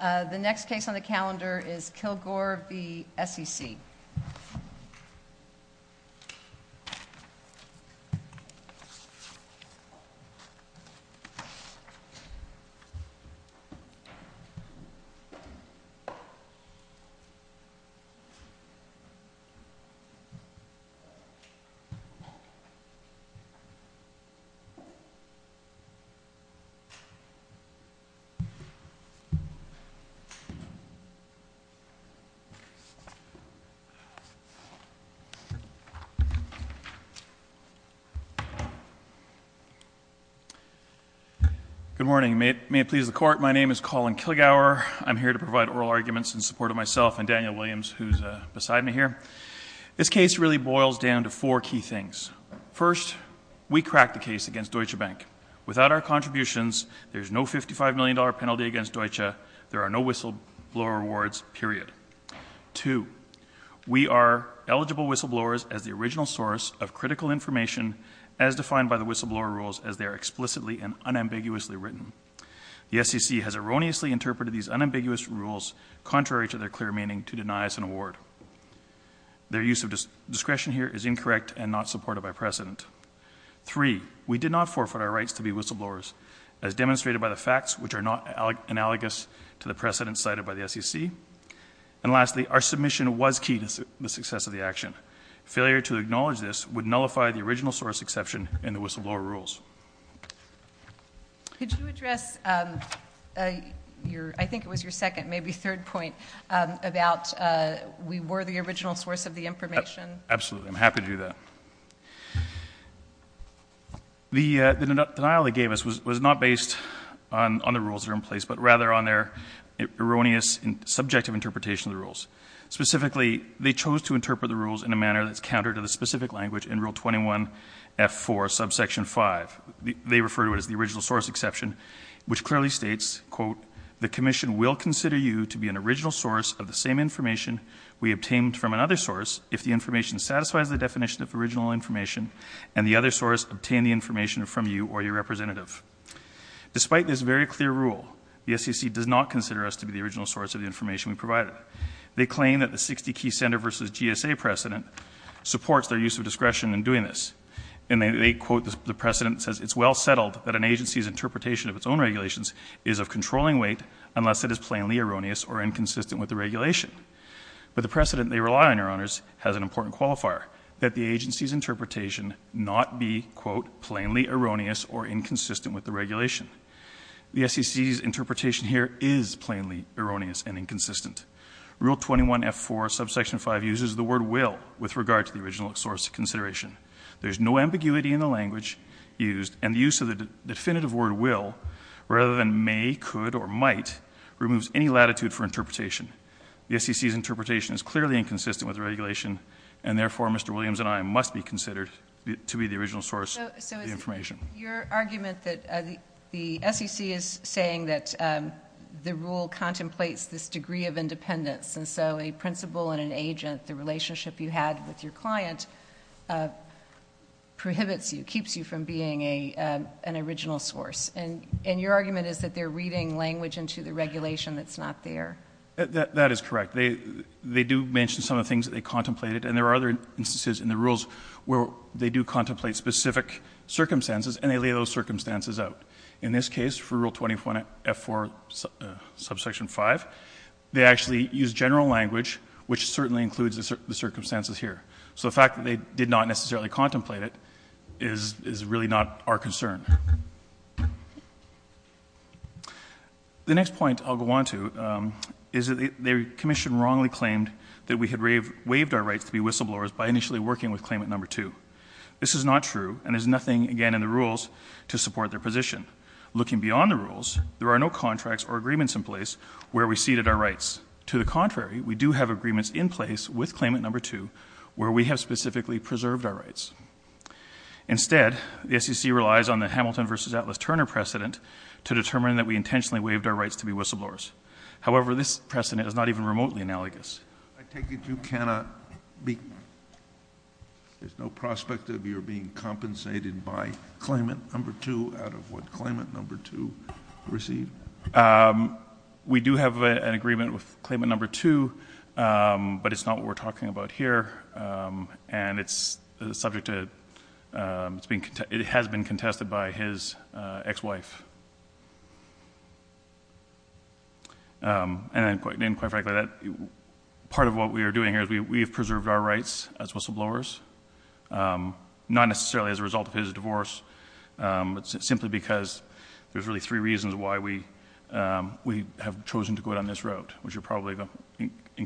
The next case on the calendar is Kilgour v. SEC. Good morning. May it please the court, my name is Colin Kilgour. I'm here to provide oral arguments in support of myself and Daniel Williams who's beside me here. This case really boils down to four key things. First, we cracked the case against Deutsche Bank. Without our support, there are no whistleblower awards, period. Two, we are eligible whistleblowers as the original source of critical information as defined by the whistleblower rules as they are explicitly and unambiguously written. The SEC has erroneously interpreted these unambiguous rules contrary to their clear meaning to deny us an award. Their use of discretion here is incorrect and not supported by precedent. Three, we did not forfeit our precedent cited by the SEC. And lastly, our submission was key to the success of the action. Failure to acknowledge this would nullify the original source exception in the whistleblower rules. Could you address, I think it was your second, maybe third point about we were the original source of the information? Absolutely, I'm happy to do that. The denial they gave us was not based on the rules that are in place, but rather on their erroneous and subjective interpretation of the rules. Specifically, they chose to interpret the rules in a manner that's counter to the specific language in Rule 21F4, Subsection 5. They refer to it as the original source exception, which clearly states, quote, the commission will consider you to be an original source of the same information we obtained from another source if the information satisfies the definition of original information and the other source obtained the information from you or your representative. Despite this very clear rule, the SEC does not consider us to be the original source of the information we provided. They claim that the 60 key centre versus GSA precedent supports their use of discretion in doing this. And they quote, the precedent says, it's well settled that an agency's interpretation of its own regulations is of controlling weight unless it is plainly erroneous or inconsistent with the regulation. But the precedent they rely on, Your Honours, has an important qualifier, that the agency's interpretation is plainly erroneous or inconsistent with the regulation. The SEC's interpretation here is plainly erroneous and inconsistent. Rule 21F4, Subsection 5 uses the word will with regard to the original source of consideration. There's no ambiguity in the language used and the use of the definitive word will, rather than may, could or might, removes any latitude for interpretation. The SEC's interpretation is clearly inconsistent with the regulation and, therefore, Mr. Williams and I must be considered to be the original source of information. Your argument that the SEC is saying that the rule contemplates this degree of independence and so a principal and an agent, the relationship you had with your client, prohibits you, keeps you from being an original source. And your argument is that they're reading language into the regulation that's not there. That is correct. They do mention some of the things that they contemplated and there are other instances in the rules where they do contemplate specific circumstances and they lay those circumstances out. In this case, for Rule 21F4, Subsection 5, they actually use general language, which certainly includes the circumstances here. So the fact that they did not necessarily contemplate it is really not our concern. The next point I'll go on to is that the Commission wrongly claimed that we had waived our rights to be whistleblowers by initially working with Claimant No. 2. This is not true and there's nothing, again, in the rules to support their position. Looking beyond the rules, there are no contracts or agreements in place where we ceded our rights. To the contrary, we do have agreements in place with Claimant No. 2 where we have specifically preserved our rights. Instead, the SEC relies on the Hamilton v. Atlas Turner precedent to determine that we intentionally waived our rights to be whistleblowers. However, this precedent is not even remotely analogous. I take it you cannot be, there's no prospect of your being compensated by Claimant No. 2 out of what Claimant No. 2 received? We do have an agreement with Claimant No. 2, but it's not what we're talking about here. It's subject to, it has been contested by his ex-wife. And quite frankly, part of what we are doing here is we have preserved our rights as whistleblowers, not necessarily as a result of his divorce, but simply because there's really three reasons why we have chosen to go down this route, which you're probably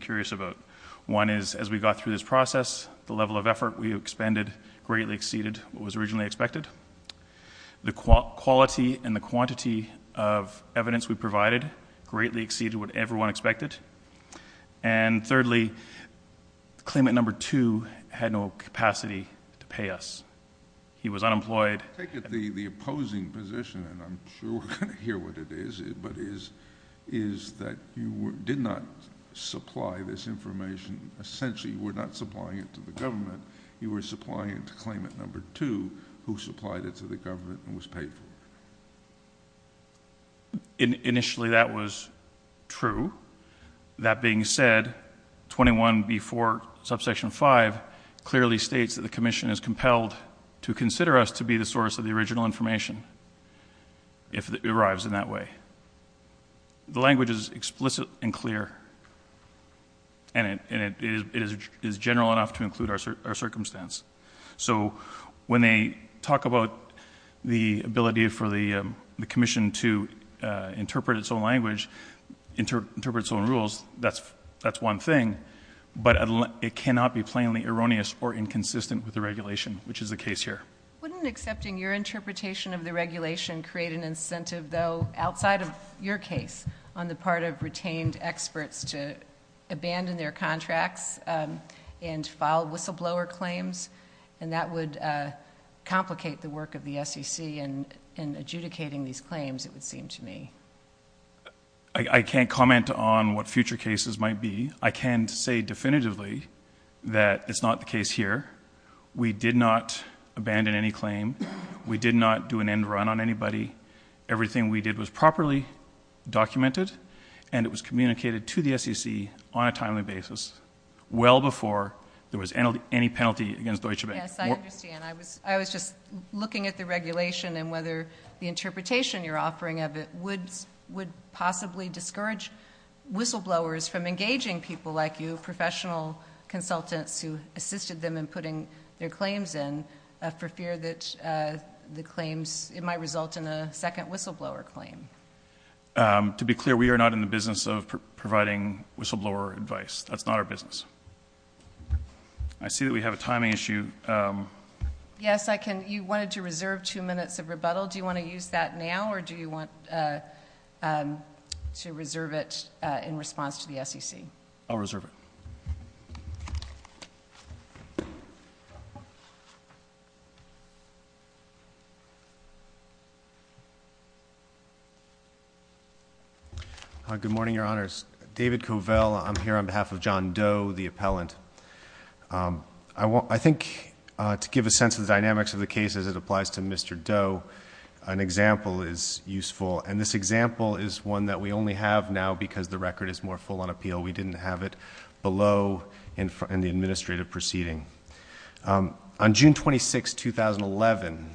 curious about. One is, as we got through this process, the level of effort we expended greatly exceeded what was originally expected. The quality and the quantity of evidence we provided greatly exceeded what everyone expected. And thirdly, Claimant No. 2 had no capacity to pay us. He was unemployed. I take it the opposing position, and I'm sure we're going to hear what it is, but is that you did not supply this information. Essentially, you were not supplying it to the government. You were supplying it to Claimant No. 2, who supplied it to the government and was paid for it. Initially that was true. That being said, 21b-4, subsection 5 clearly states that the Commission is compelled to consider us to be the source of the original information, if it arrives in that way. The language is explicit and clear, and it is general enough to include our circumstance. So when they talk about the ability for the Commission to interpret its own language, interpret its own rules, that's one thing, but it cannot be plainly erroneous or inconsistent with the regulation, which is the case here. Wouldn't accepting your interpretation of the regulation create an incentive, though, outside of your case, on the part of retained experts to abandon their contracts and file whistleblower claims? That would complicate the work of the SEC in adjudicating these claims, it would seem to me. I can't comment on what future cases might be. I can say definitively that it's not the end in any claim. We did not do an end run on anybody. Everything we did was properly documented, and it was communicated to the SEC on a timely basis, well before there was any penalty against Deutsche Bank. Yes, I understand. I was just looking at the regulation and whether the interpretation you're offering of it would possibly discourage whistleblowers from engaging people like you, who assisted them in putting their claims in, for fear that the claims might result in a second whistleblower claim. To be clear, we are not in the business of providing whistleblower advice. That's not our business. I see that we have a timing issue. Yes, you wanted to reserve two minutes of rebuttal. Do you want to use that now, or do you want to do it at the end of the day? I'll reserve it. Good morning, Your Honors. David Covell. I'm here on behalf of John Doe, the appellant. I think to give a sense of the dynamics of the case as it applies to Mr. Doe, an example is useful. And this example is one that we only have now because the record is more full on appeal. We didn't have it below in the administrative proceeding. On June 26, 2011,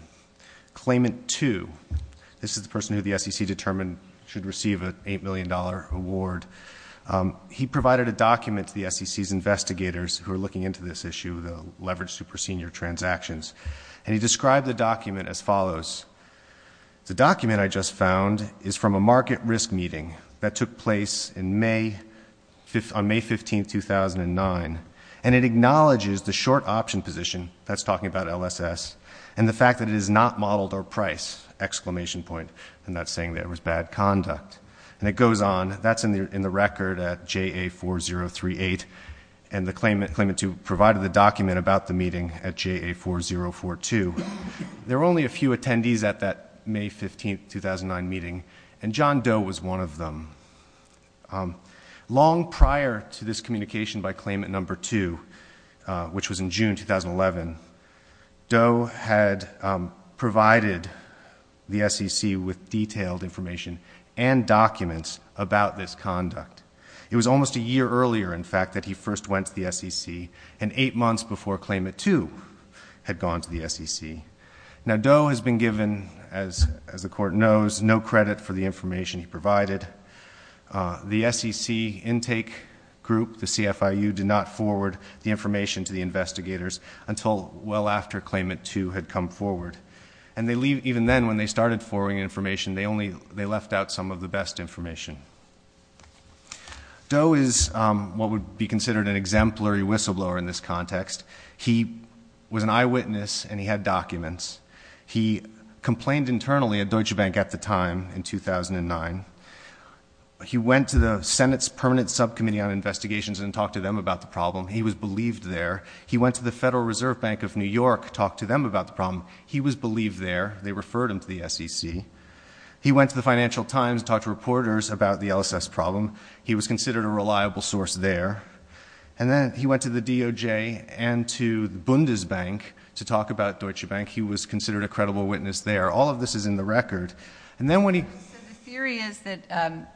Claimant 2—this is the person who the SEC determined should receive an $8 million award—he provided a document to the SEC's investigators who are looking into this issue, the leveraged super senior transactions. And he described the document as follows. The document, I just found, is from a market risk meeting that took place on May 15, 2009. And it acknowledges the short option position—that's talking about LSS—and the fact that it is not modeled or priced, exclamation point. I'm not saying that it was bad conduct. And it goes on. That's in the record at JA4038. And Claimant 2 provided the document about the meeting at JA4042. There were only a few attendees at that May 15, 2009, meeting. And John Doe was one of them. Long prior to this communication by Claimant 2, which was in June 2011, Doe had provided the SEC with detailed information and documents about this conduct. It was almost a year earlier, in fact, that he first went to the SEC, and eight months before Claimant 2 had gone to the SEC. Now, Doe has been given, as the Court knows, no credit for the information he provided. The SEC intake group, the CFIU, did not forward the information to the investigators until well after Claimant 2 had come forward. And even then, when they started forwarding information, they left out some of the best information. Doe is what would be considered an exemplary whistleblower in this context. He was an eyewitness and he had documents. He complained internally at Deutsche Bank at the time in 2009. He went to the Senate's Permanent Subcommittee on Investigations and talked to them about the problem. He was believed there. He went to the Federal Reserve Bank of New York, talked to them about the problem. He was believed there. They referred him to the SEC. He went to the Financial Times, talked to reporters about the LSS problem. He was considered a reliable source there. And then he went to the DOJ and to Bundesbank to talk about Deutsche Bank. He was considered a credible witness there. All of this is in the record. And then when he— So the theory is that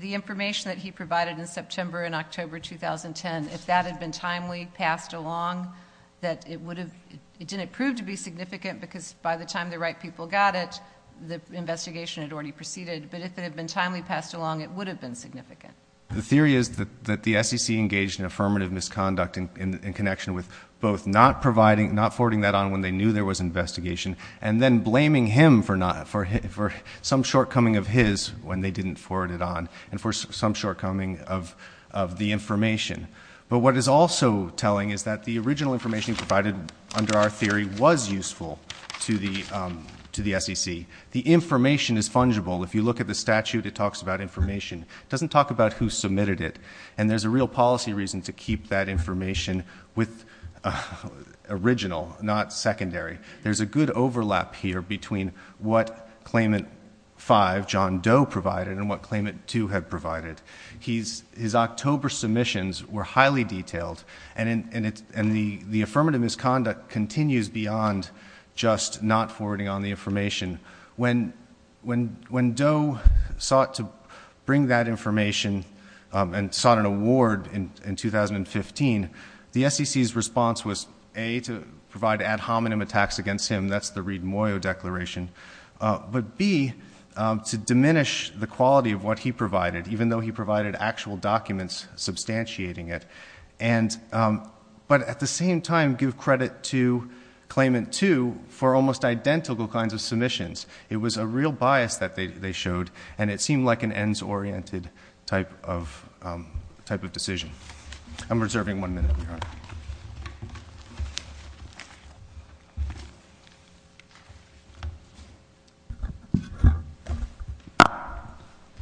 the information that he provided in September and October 2010, if that had been timely, passed along, that it would have—it didn't prove to be significant because by the time the right people got it, the investigation had already proceeded. But if it had been timely, passed along, it would have been significant. The theory is that the SEC engaged in affirmative misconduct in connection with both not providing—not forwarding that on when they knew there was investigation and then blaming him for some shortcoming of his when they didn't forward it on and for some shortcoming of the information. But what it's also telling is that the original information provided under our theory was useful to the SEC. The information is fungible. If you look at the statute, it talks about information. It doesn't talk about who submitted it. And there's a real policy reason to keep that information with original, not secondary. There's a good overlap here between what Claimant 5, John Doe, provided and what Claimant 2 had provided. His October submissions were beyond just not forwarding on the information. When Doe sought to bring that information and sought an award in 2015, the SEC's response was A, to provide ad hominem attacks against him—that's the Reed-Moyo Declaration—but B, to diminish the quality of what he provided, even though he provided actual documents substantiating it. But at the same time, give credit to Claimant 2 for almost identical kinds of submissions. It was a real bias that they showed, and it seemed like an ends-oriented type of decision. I'm reserving one minute, Your Honor.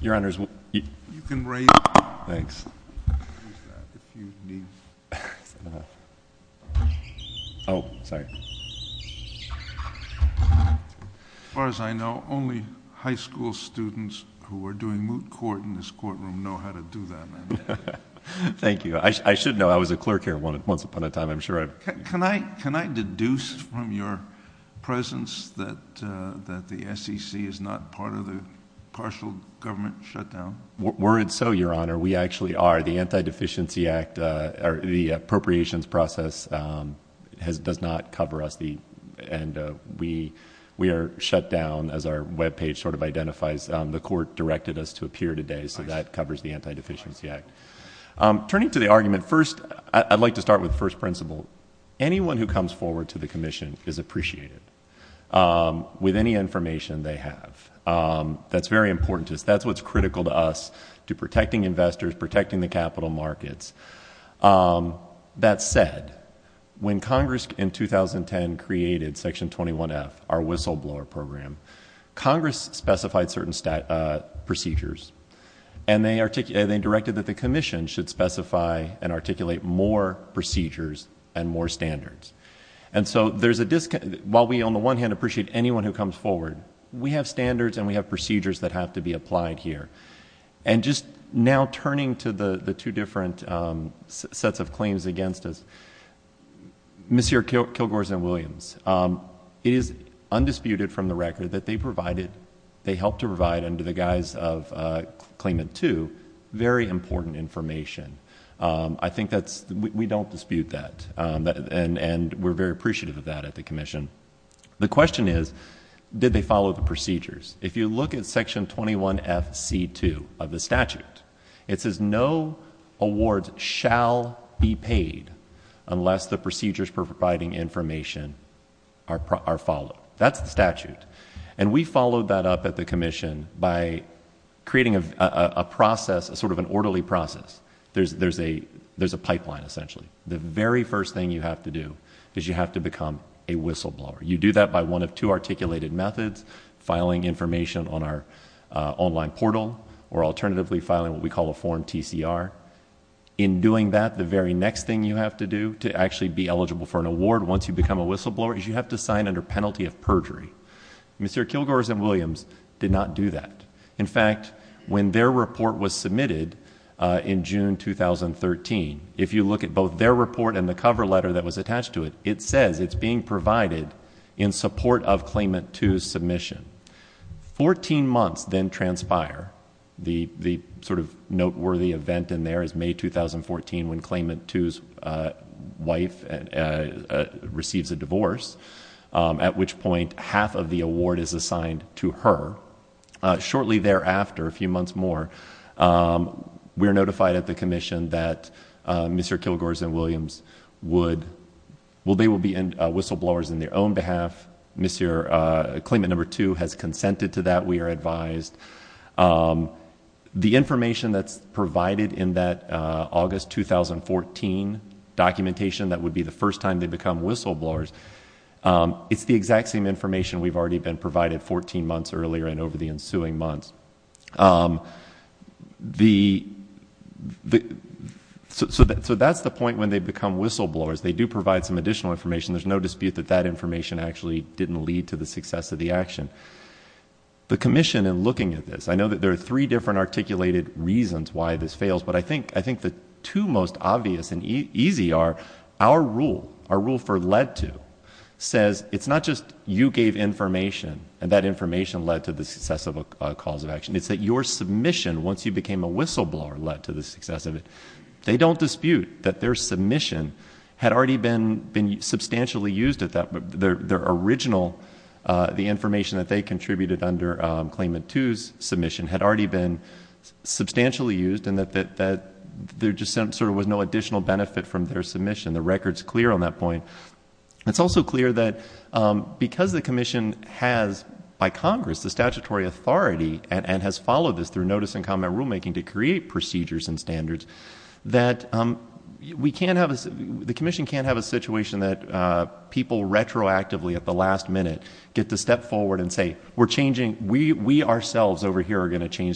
Your Honor, as far as I know, only high school students who are doing moot court in this courtroom know how to do that. Thank you. I should know. I was a clerk here once upon a time, I'm sure. Can I deduce from your presence that the SEC is not part of the partial government shutdown? Were it so, Your Honor, we actually are. The Anti-Deficiency Act, or the appropriations process, does not cover us. We are shut down, as our webpage sort of identifies. The court directed us to appear today, so that covers the Anti-Deficiency Act. Turning to the argument, first, I'd like to start with the first principle. Anyone who comes forward to the Commission is appreciated with any information they have. That's very important to us. That's what's critical to us, to protecting investors, protecting the capital markets. That said, when Congress in 2010 created Section 21F, our whistleblower program, Congress specified certain procedures. They directed that the Commission should specify and articulate more procedures and more standards. While we, on the one hand, appreciate anyone who comes forward, we have standards and we have procedures that have to be applied here. Now, turning to the two different sets of information from the record that they provided, they helped to provide under the guise of Claimant 2, very important information. I think that's... we don't dispute that, and we're very appreciative of that at the Commission. The question is, did they follow the procedures? If you look at Section 21FC2 of the statute, it says no awards shall be paid unless the procedures providing information are followed. That's the statute. And we followed that up at the Commission by creating a process, sort of an orderly process. There's a pipeline, essentially. The very first thing you have to do is you have to become a whistleblower. You do that by one of two articulated methods, filing information on our online portal, or alternatively, filing what we call a form TCR. In doing that, the very next thing you have to do to actually be eligible for an Mr. Kilgore's and Williams did not do that. In fact, when their report was submitted in June 2013, if you look at both their report and the cover letter that was attached to it, it says it's being provided in support of Claimant 2's submission. Fourteen months then transpire. The sort of noteworthy event in there is May 2014 when Claimant 2's wife receives a divorce, at which point half of the award is assigned to her. Shortly thereafter, a few months more, we are notified at the Commission that Mr. Kilgore's and Williams would... well, they will be whistleblowers on their own behalf. Claimant 2 has consented to that. We are advised. The information that's provided in that August 2014 documentation that would be the first time they become whistleblowers, it's the exact same information we've already been provided 14 months earlier and over the ensuing months. So that's the point when they become whistleblowers. They do provide some additional information. There's no dispute that that information actually didn't lead to the success of the action. The Commission, in looking at this, I know that there are three different articulated reasons why this fails, but I think the two most obvious and easy are our rule, our rule for led to, says it's not just you gave information and that information led to the success of a cause of action. It's that your submission, once you became a whistleblower, led to the success of it. They don't dispute that their submission had already been substantially used at that... their original, the information that they contributed under Claimant 2's had already been substantially used and that there just sort of was no additional benefit from their submission. The record's clear on that point. It's also clear that because the Commission has, by Congress, the statutory authority and has followed this through notice and comment rulemaking to create procedures and standards, that we can't have... the Commission can't have a situation that people retroactively at the last minute get to step in and change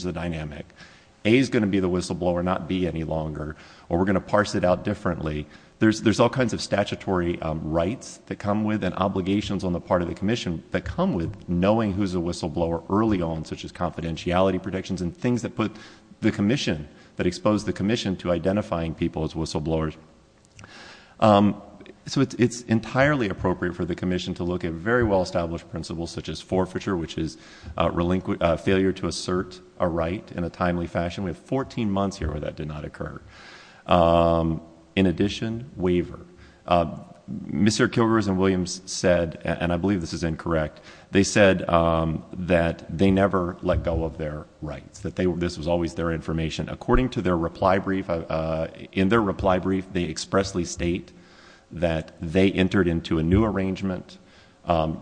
the dynamic. A is going to be the whistleblower, not B any longer, or we're going to parse it out differently. There's all kinds of statutory rights that come with and obligations on the part of the Commission that come with knowing who's a whistleblower early on, such as confidentiality protections and things that put the Commission... that expose the Commission to identifying people as whistleblowers. So it's entirely appropriate for the Commission to look at very well-established principles such as forfeiture, which is a failure to assert a right in a timely fashion. We have 14 months here where that did not occur. In addition, waiver. Mr. Kilgores and Williams said, and I believe this is incorrect, they said that they never let go of their rights, that this was always their information. According to their reply brief... in their reply brief, they expressly state that they entered into a new arrangement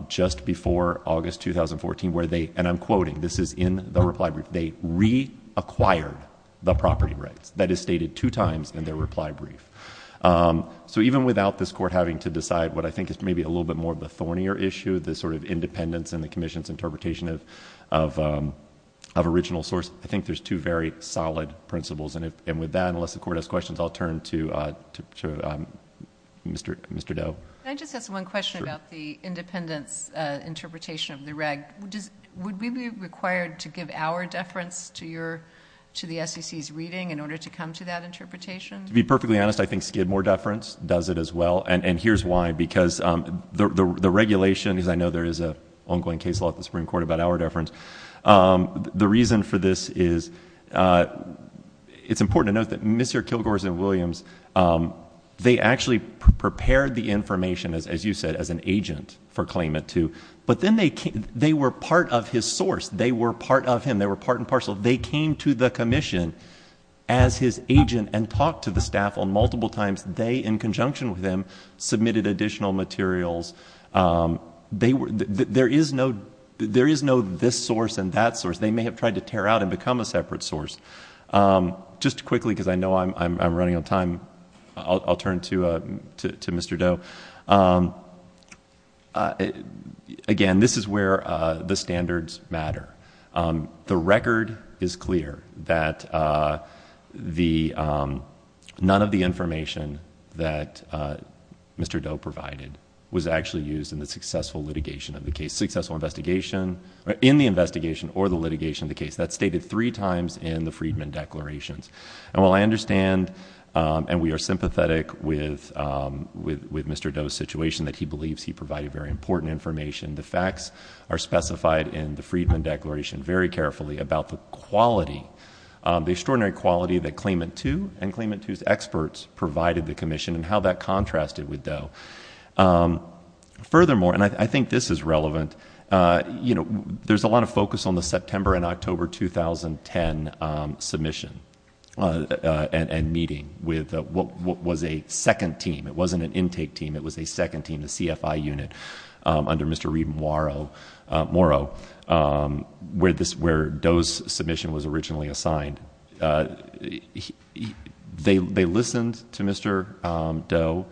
just before August 2014 where they, and I'm quoting, this is in the reply brief, they reacquired the property rights. That is stated two times in their reply brief. So even without this Court having to decide what I think is maybe a little bit more of the thornier issue, the sort of independence in the Commission's interpretation of original source, I think there's two very solid principles. And with that, unless the Court has questions, I'll turn to Mr. Doe. Can I just ask one question about the independence interpretation of the reg? Would we be required to give our deference to the SEC's reading in order to come to that interpretation? To be perfectly honest, I think Skidmore deference does it as well. And here's why. Because the regulation, as I know there is an ongoing case law at the Supreme Court about our deference, the reason for this is... it's important to note that Mr. Kilgores and Mr. Doe came to the Commission, as you said, as an agent for Claimant 2. But then they were part of his source. They were part of him. They were part and parcel. They came to the Commission as his agent and talked to the staff on multiple times. They, in conjunction with him, submitted additional materials. There is no this source and that source. They may have tried to tear out and become a separate source. Just quickly, because I know I'm running on time, I'll turn to Mr. Doe. Again, this is where the standards matter. The record is clear that none of the information that Mr. Doe provided was actually used in the successful litigation of the case, successful investigation... in the investigation or the litigation of the case. That's stated three times in the Freedman Declarations. While I understand and we are sympathetic with Mr. Doe's situation that he believes he provided very important information, the facts are specified in the Freedman Declaration very carefully about the quality, the extraordinary quality that Claimant 2 and Claimant 2's experts provided the Commission and how that contrasted with Doe. Furthermore, and I think this is relevant, there's a lot of focus on the September and October 2010 submission and meeting with what was a second team. It wasn't an intake team. It was a second team, a CFI unit under Mr. Reed Morrow where Doe's submission was originally assigned. They listened to Mr. Doe.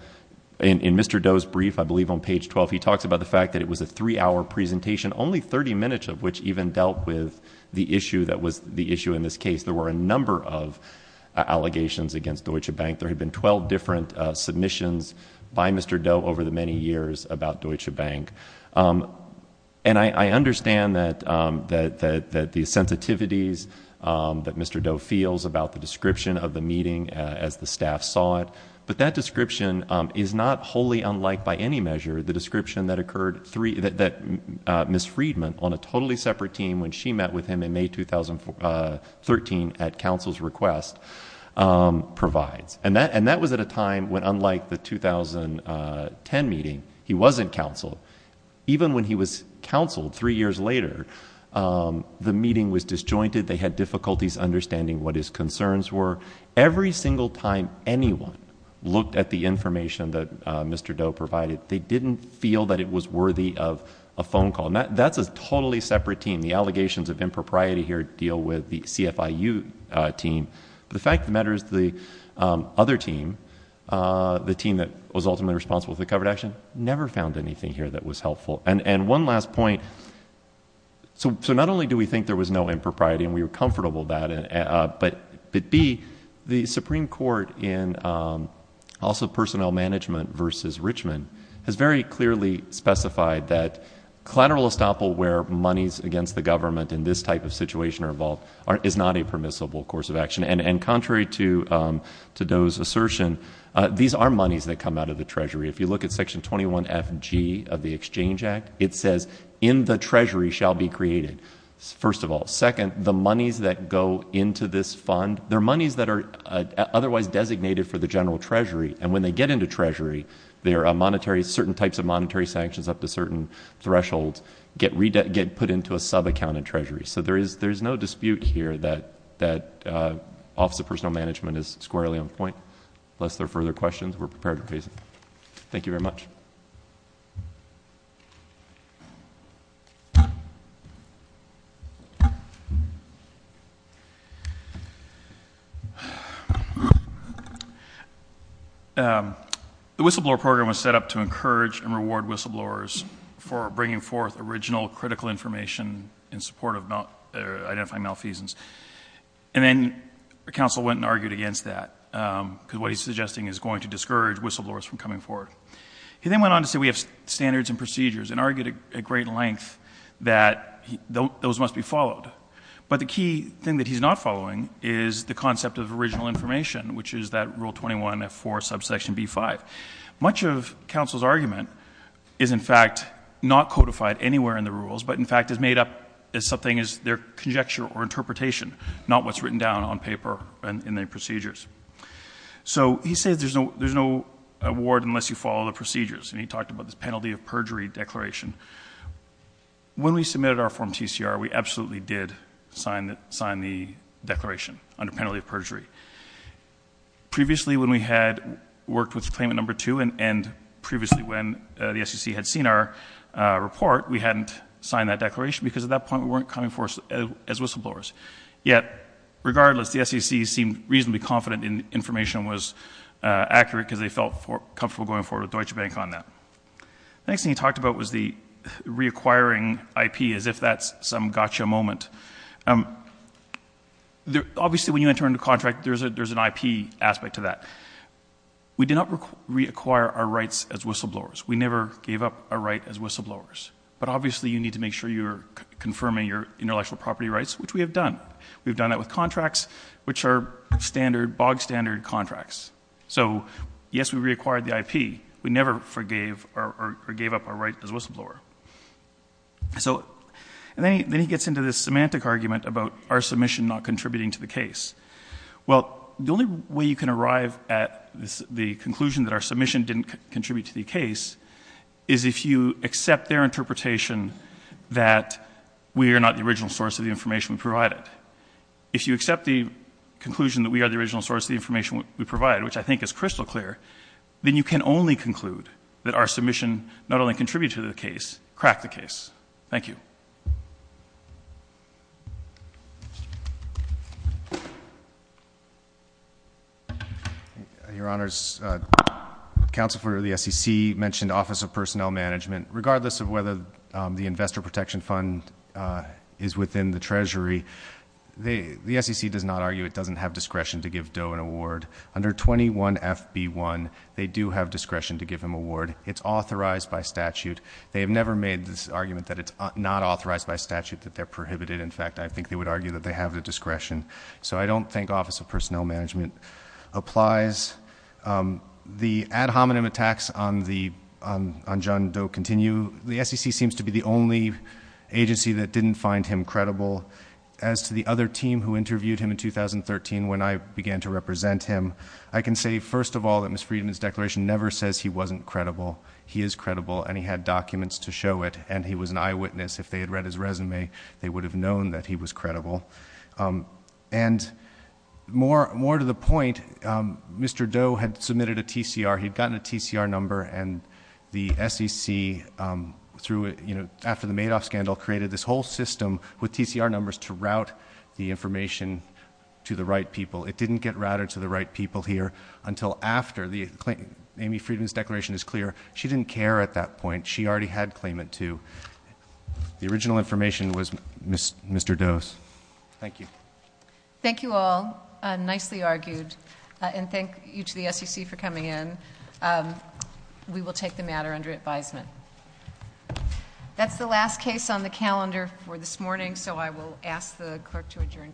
In Mr. Doe's brief, I believe on page 12, he talks about the fact that it was a three-hour presentation, only thirty minutes of which even dealt with the issue in this case. There were a number of allegations against Deutsche Bank. There had been twelve different submissions by Mr. Doe over the many years about Deutsche Bank. I understand that the sensitivities that Mr. Doe feels about the description of the meeting as the staff saw it, but that description is not wholly unlike by any measure the description that Ms. Friedman on a totally separate team when she met with him in May 2013 at counsel's request provides. And that was at a time when unlike the 2010 meeting, he wasn't counseled. Even when he was counseled three years later, the meeting was disjointed. They had difficulties understanding what his concerns were. Every single time anyone looked at the information that Mr. Doe provided, they didn't feel that it was worthy of a phone call. That's a totally separate team. The allegations of impropriety here deal with the CFIU team. The fact of the matter is the other team, the team that was ultimately responsible for the covered action, never found anything here that was helpful. And one last point, so not only do we think there was no impropriety, the Supreme Court in also personnel management versus Richmond has very clearly specified that collateral estoppel where monies against the government in this type of situation are involved is not a permissible course of action. And contrary to Doe's assertion, these are monies that come out of the Treasury. If you look at Section 21FG of the Exchange Act, it says in the Treasury shall be monies that are otherwise designated for the general Treasury. And when they get into Treasury, certain types of monetary sanctions up to certain thresholds get put into a subaccount in Treasury. So there is no dispute here that Office of Personnel Management is squarely on point. Unless there are further questions, we're prepared to raise them. Thank you very much. The whistleblower program was set up to encourage and reward whistleblowers for bringing forth original critical information in support of identifying malfeasance. And then counsel went and argued against that because what he's suggesting is going to discourage whistleblowers from coming forward. He then went on to say we have standards and procedures and argued at great length that those must be followed. But the key thing that he's not following is the concept of original information, which is that Rule 21F4, subsection B5. Much of counsel's argument is in fact not codified anywhere in the rules, but in fact is made up as something as their conjecture or interpretation, not what's written down on paper and in their procedures. So he says there's no award unless you follow the rules. The next thing he talked about was the reacquiring IP, as if that was the some gotcha moment. Obviously when you enter into a contract, there's an IP aspect to that. We do not reacquire our rights as whistleblowers. We never gave up our right as whistleblowers. But obviously you need to make sure you're confirming your intellectual property rights, which we have done. We've done that with contracts, which are bog standard contracts. So yes, we reacquired the IP. We never forgave or gave up our right as whistleblower. Then he gets into this semantic argument about our submission not contributing to the case. Well, the only way you can arrive at the conclusion that our submission didn't contribute to the case is if you accept their interpretation that we are not the original source of the information we provided. If you accept the conclusion that we are the original source of the information we provided, then you can argue that our submission not only contributed to the case, cracked the case. Thank you. Your Honors, Counsel for the SEC mentioned Office of Personnel Management. Regardless of whether the Investor Protection Fund is within the Treasury, the SEC does not argue it doesn't have discretion to give him a ward. It's authorized by statute. They have never made this argument that it's not authorized by statute, that they're prohibited. In fact, I think they would argue that they have the discretion. So I don't think Office of Personnel Management applies. The ad hominem attacks on John Doe continue. The SEC seems to be the only agency that didn't find him credible. As to the other team who interviewed him in the past, I think they would argue that he was not credible. The SEC's ad hominem says he wasn't credible. He is credible and he had documents to show it and he was an eyewitness. If they had read his resume, they would have known that he was credible. More to the point, Mr. Doe had submitted a TCR. He had gotten a TCR number and the SEC, after the Madoff scandal, created this whole system with TCR numbers to route the information to the right people. It didn't get routed to the right people here until after. Amy Friedman's declaration is clear. She didn't care at that point. She already had claimant 2. The original information was Mr. Doe's. Thank you. Thank you all. Nicely argued. And thank you to the SEC for coming in. We will take the matter under advisement. That's the last case on the calendar for this morning. I will ask the clerk to adjourn court.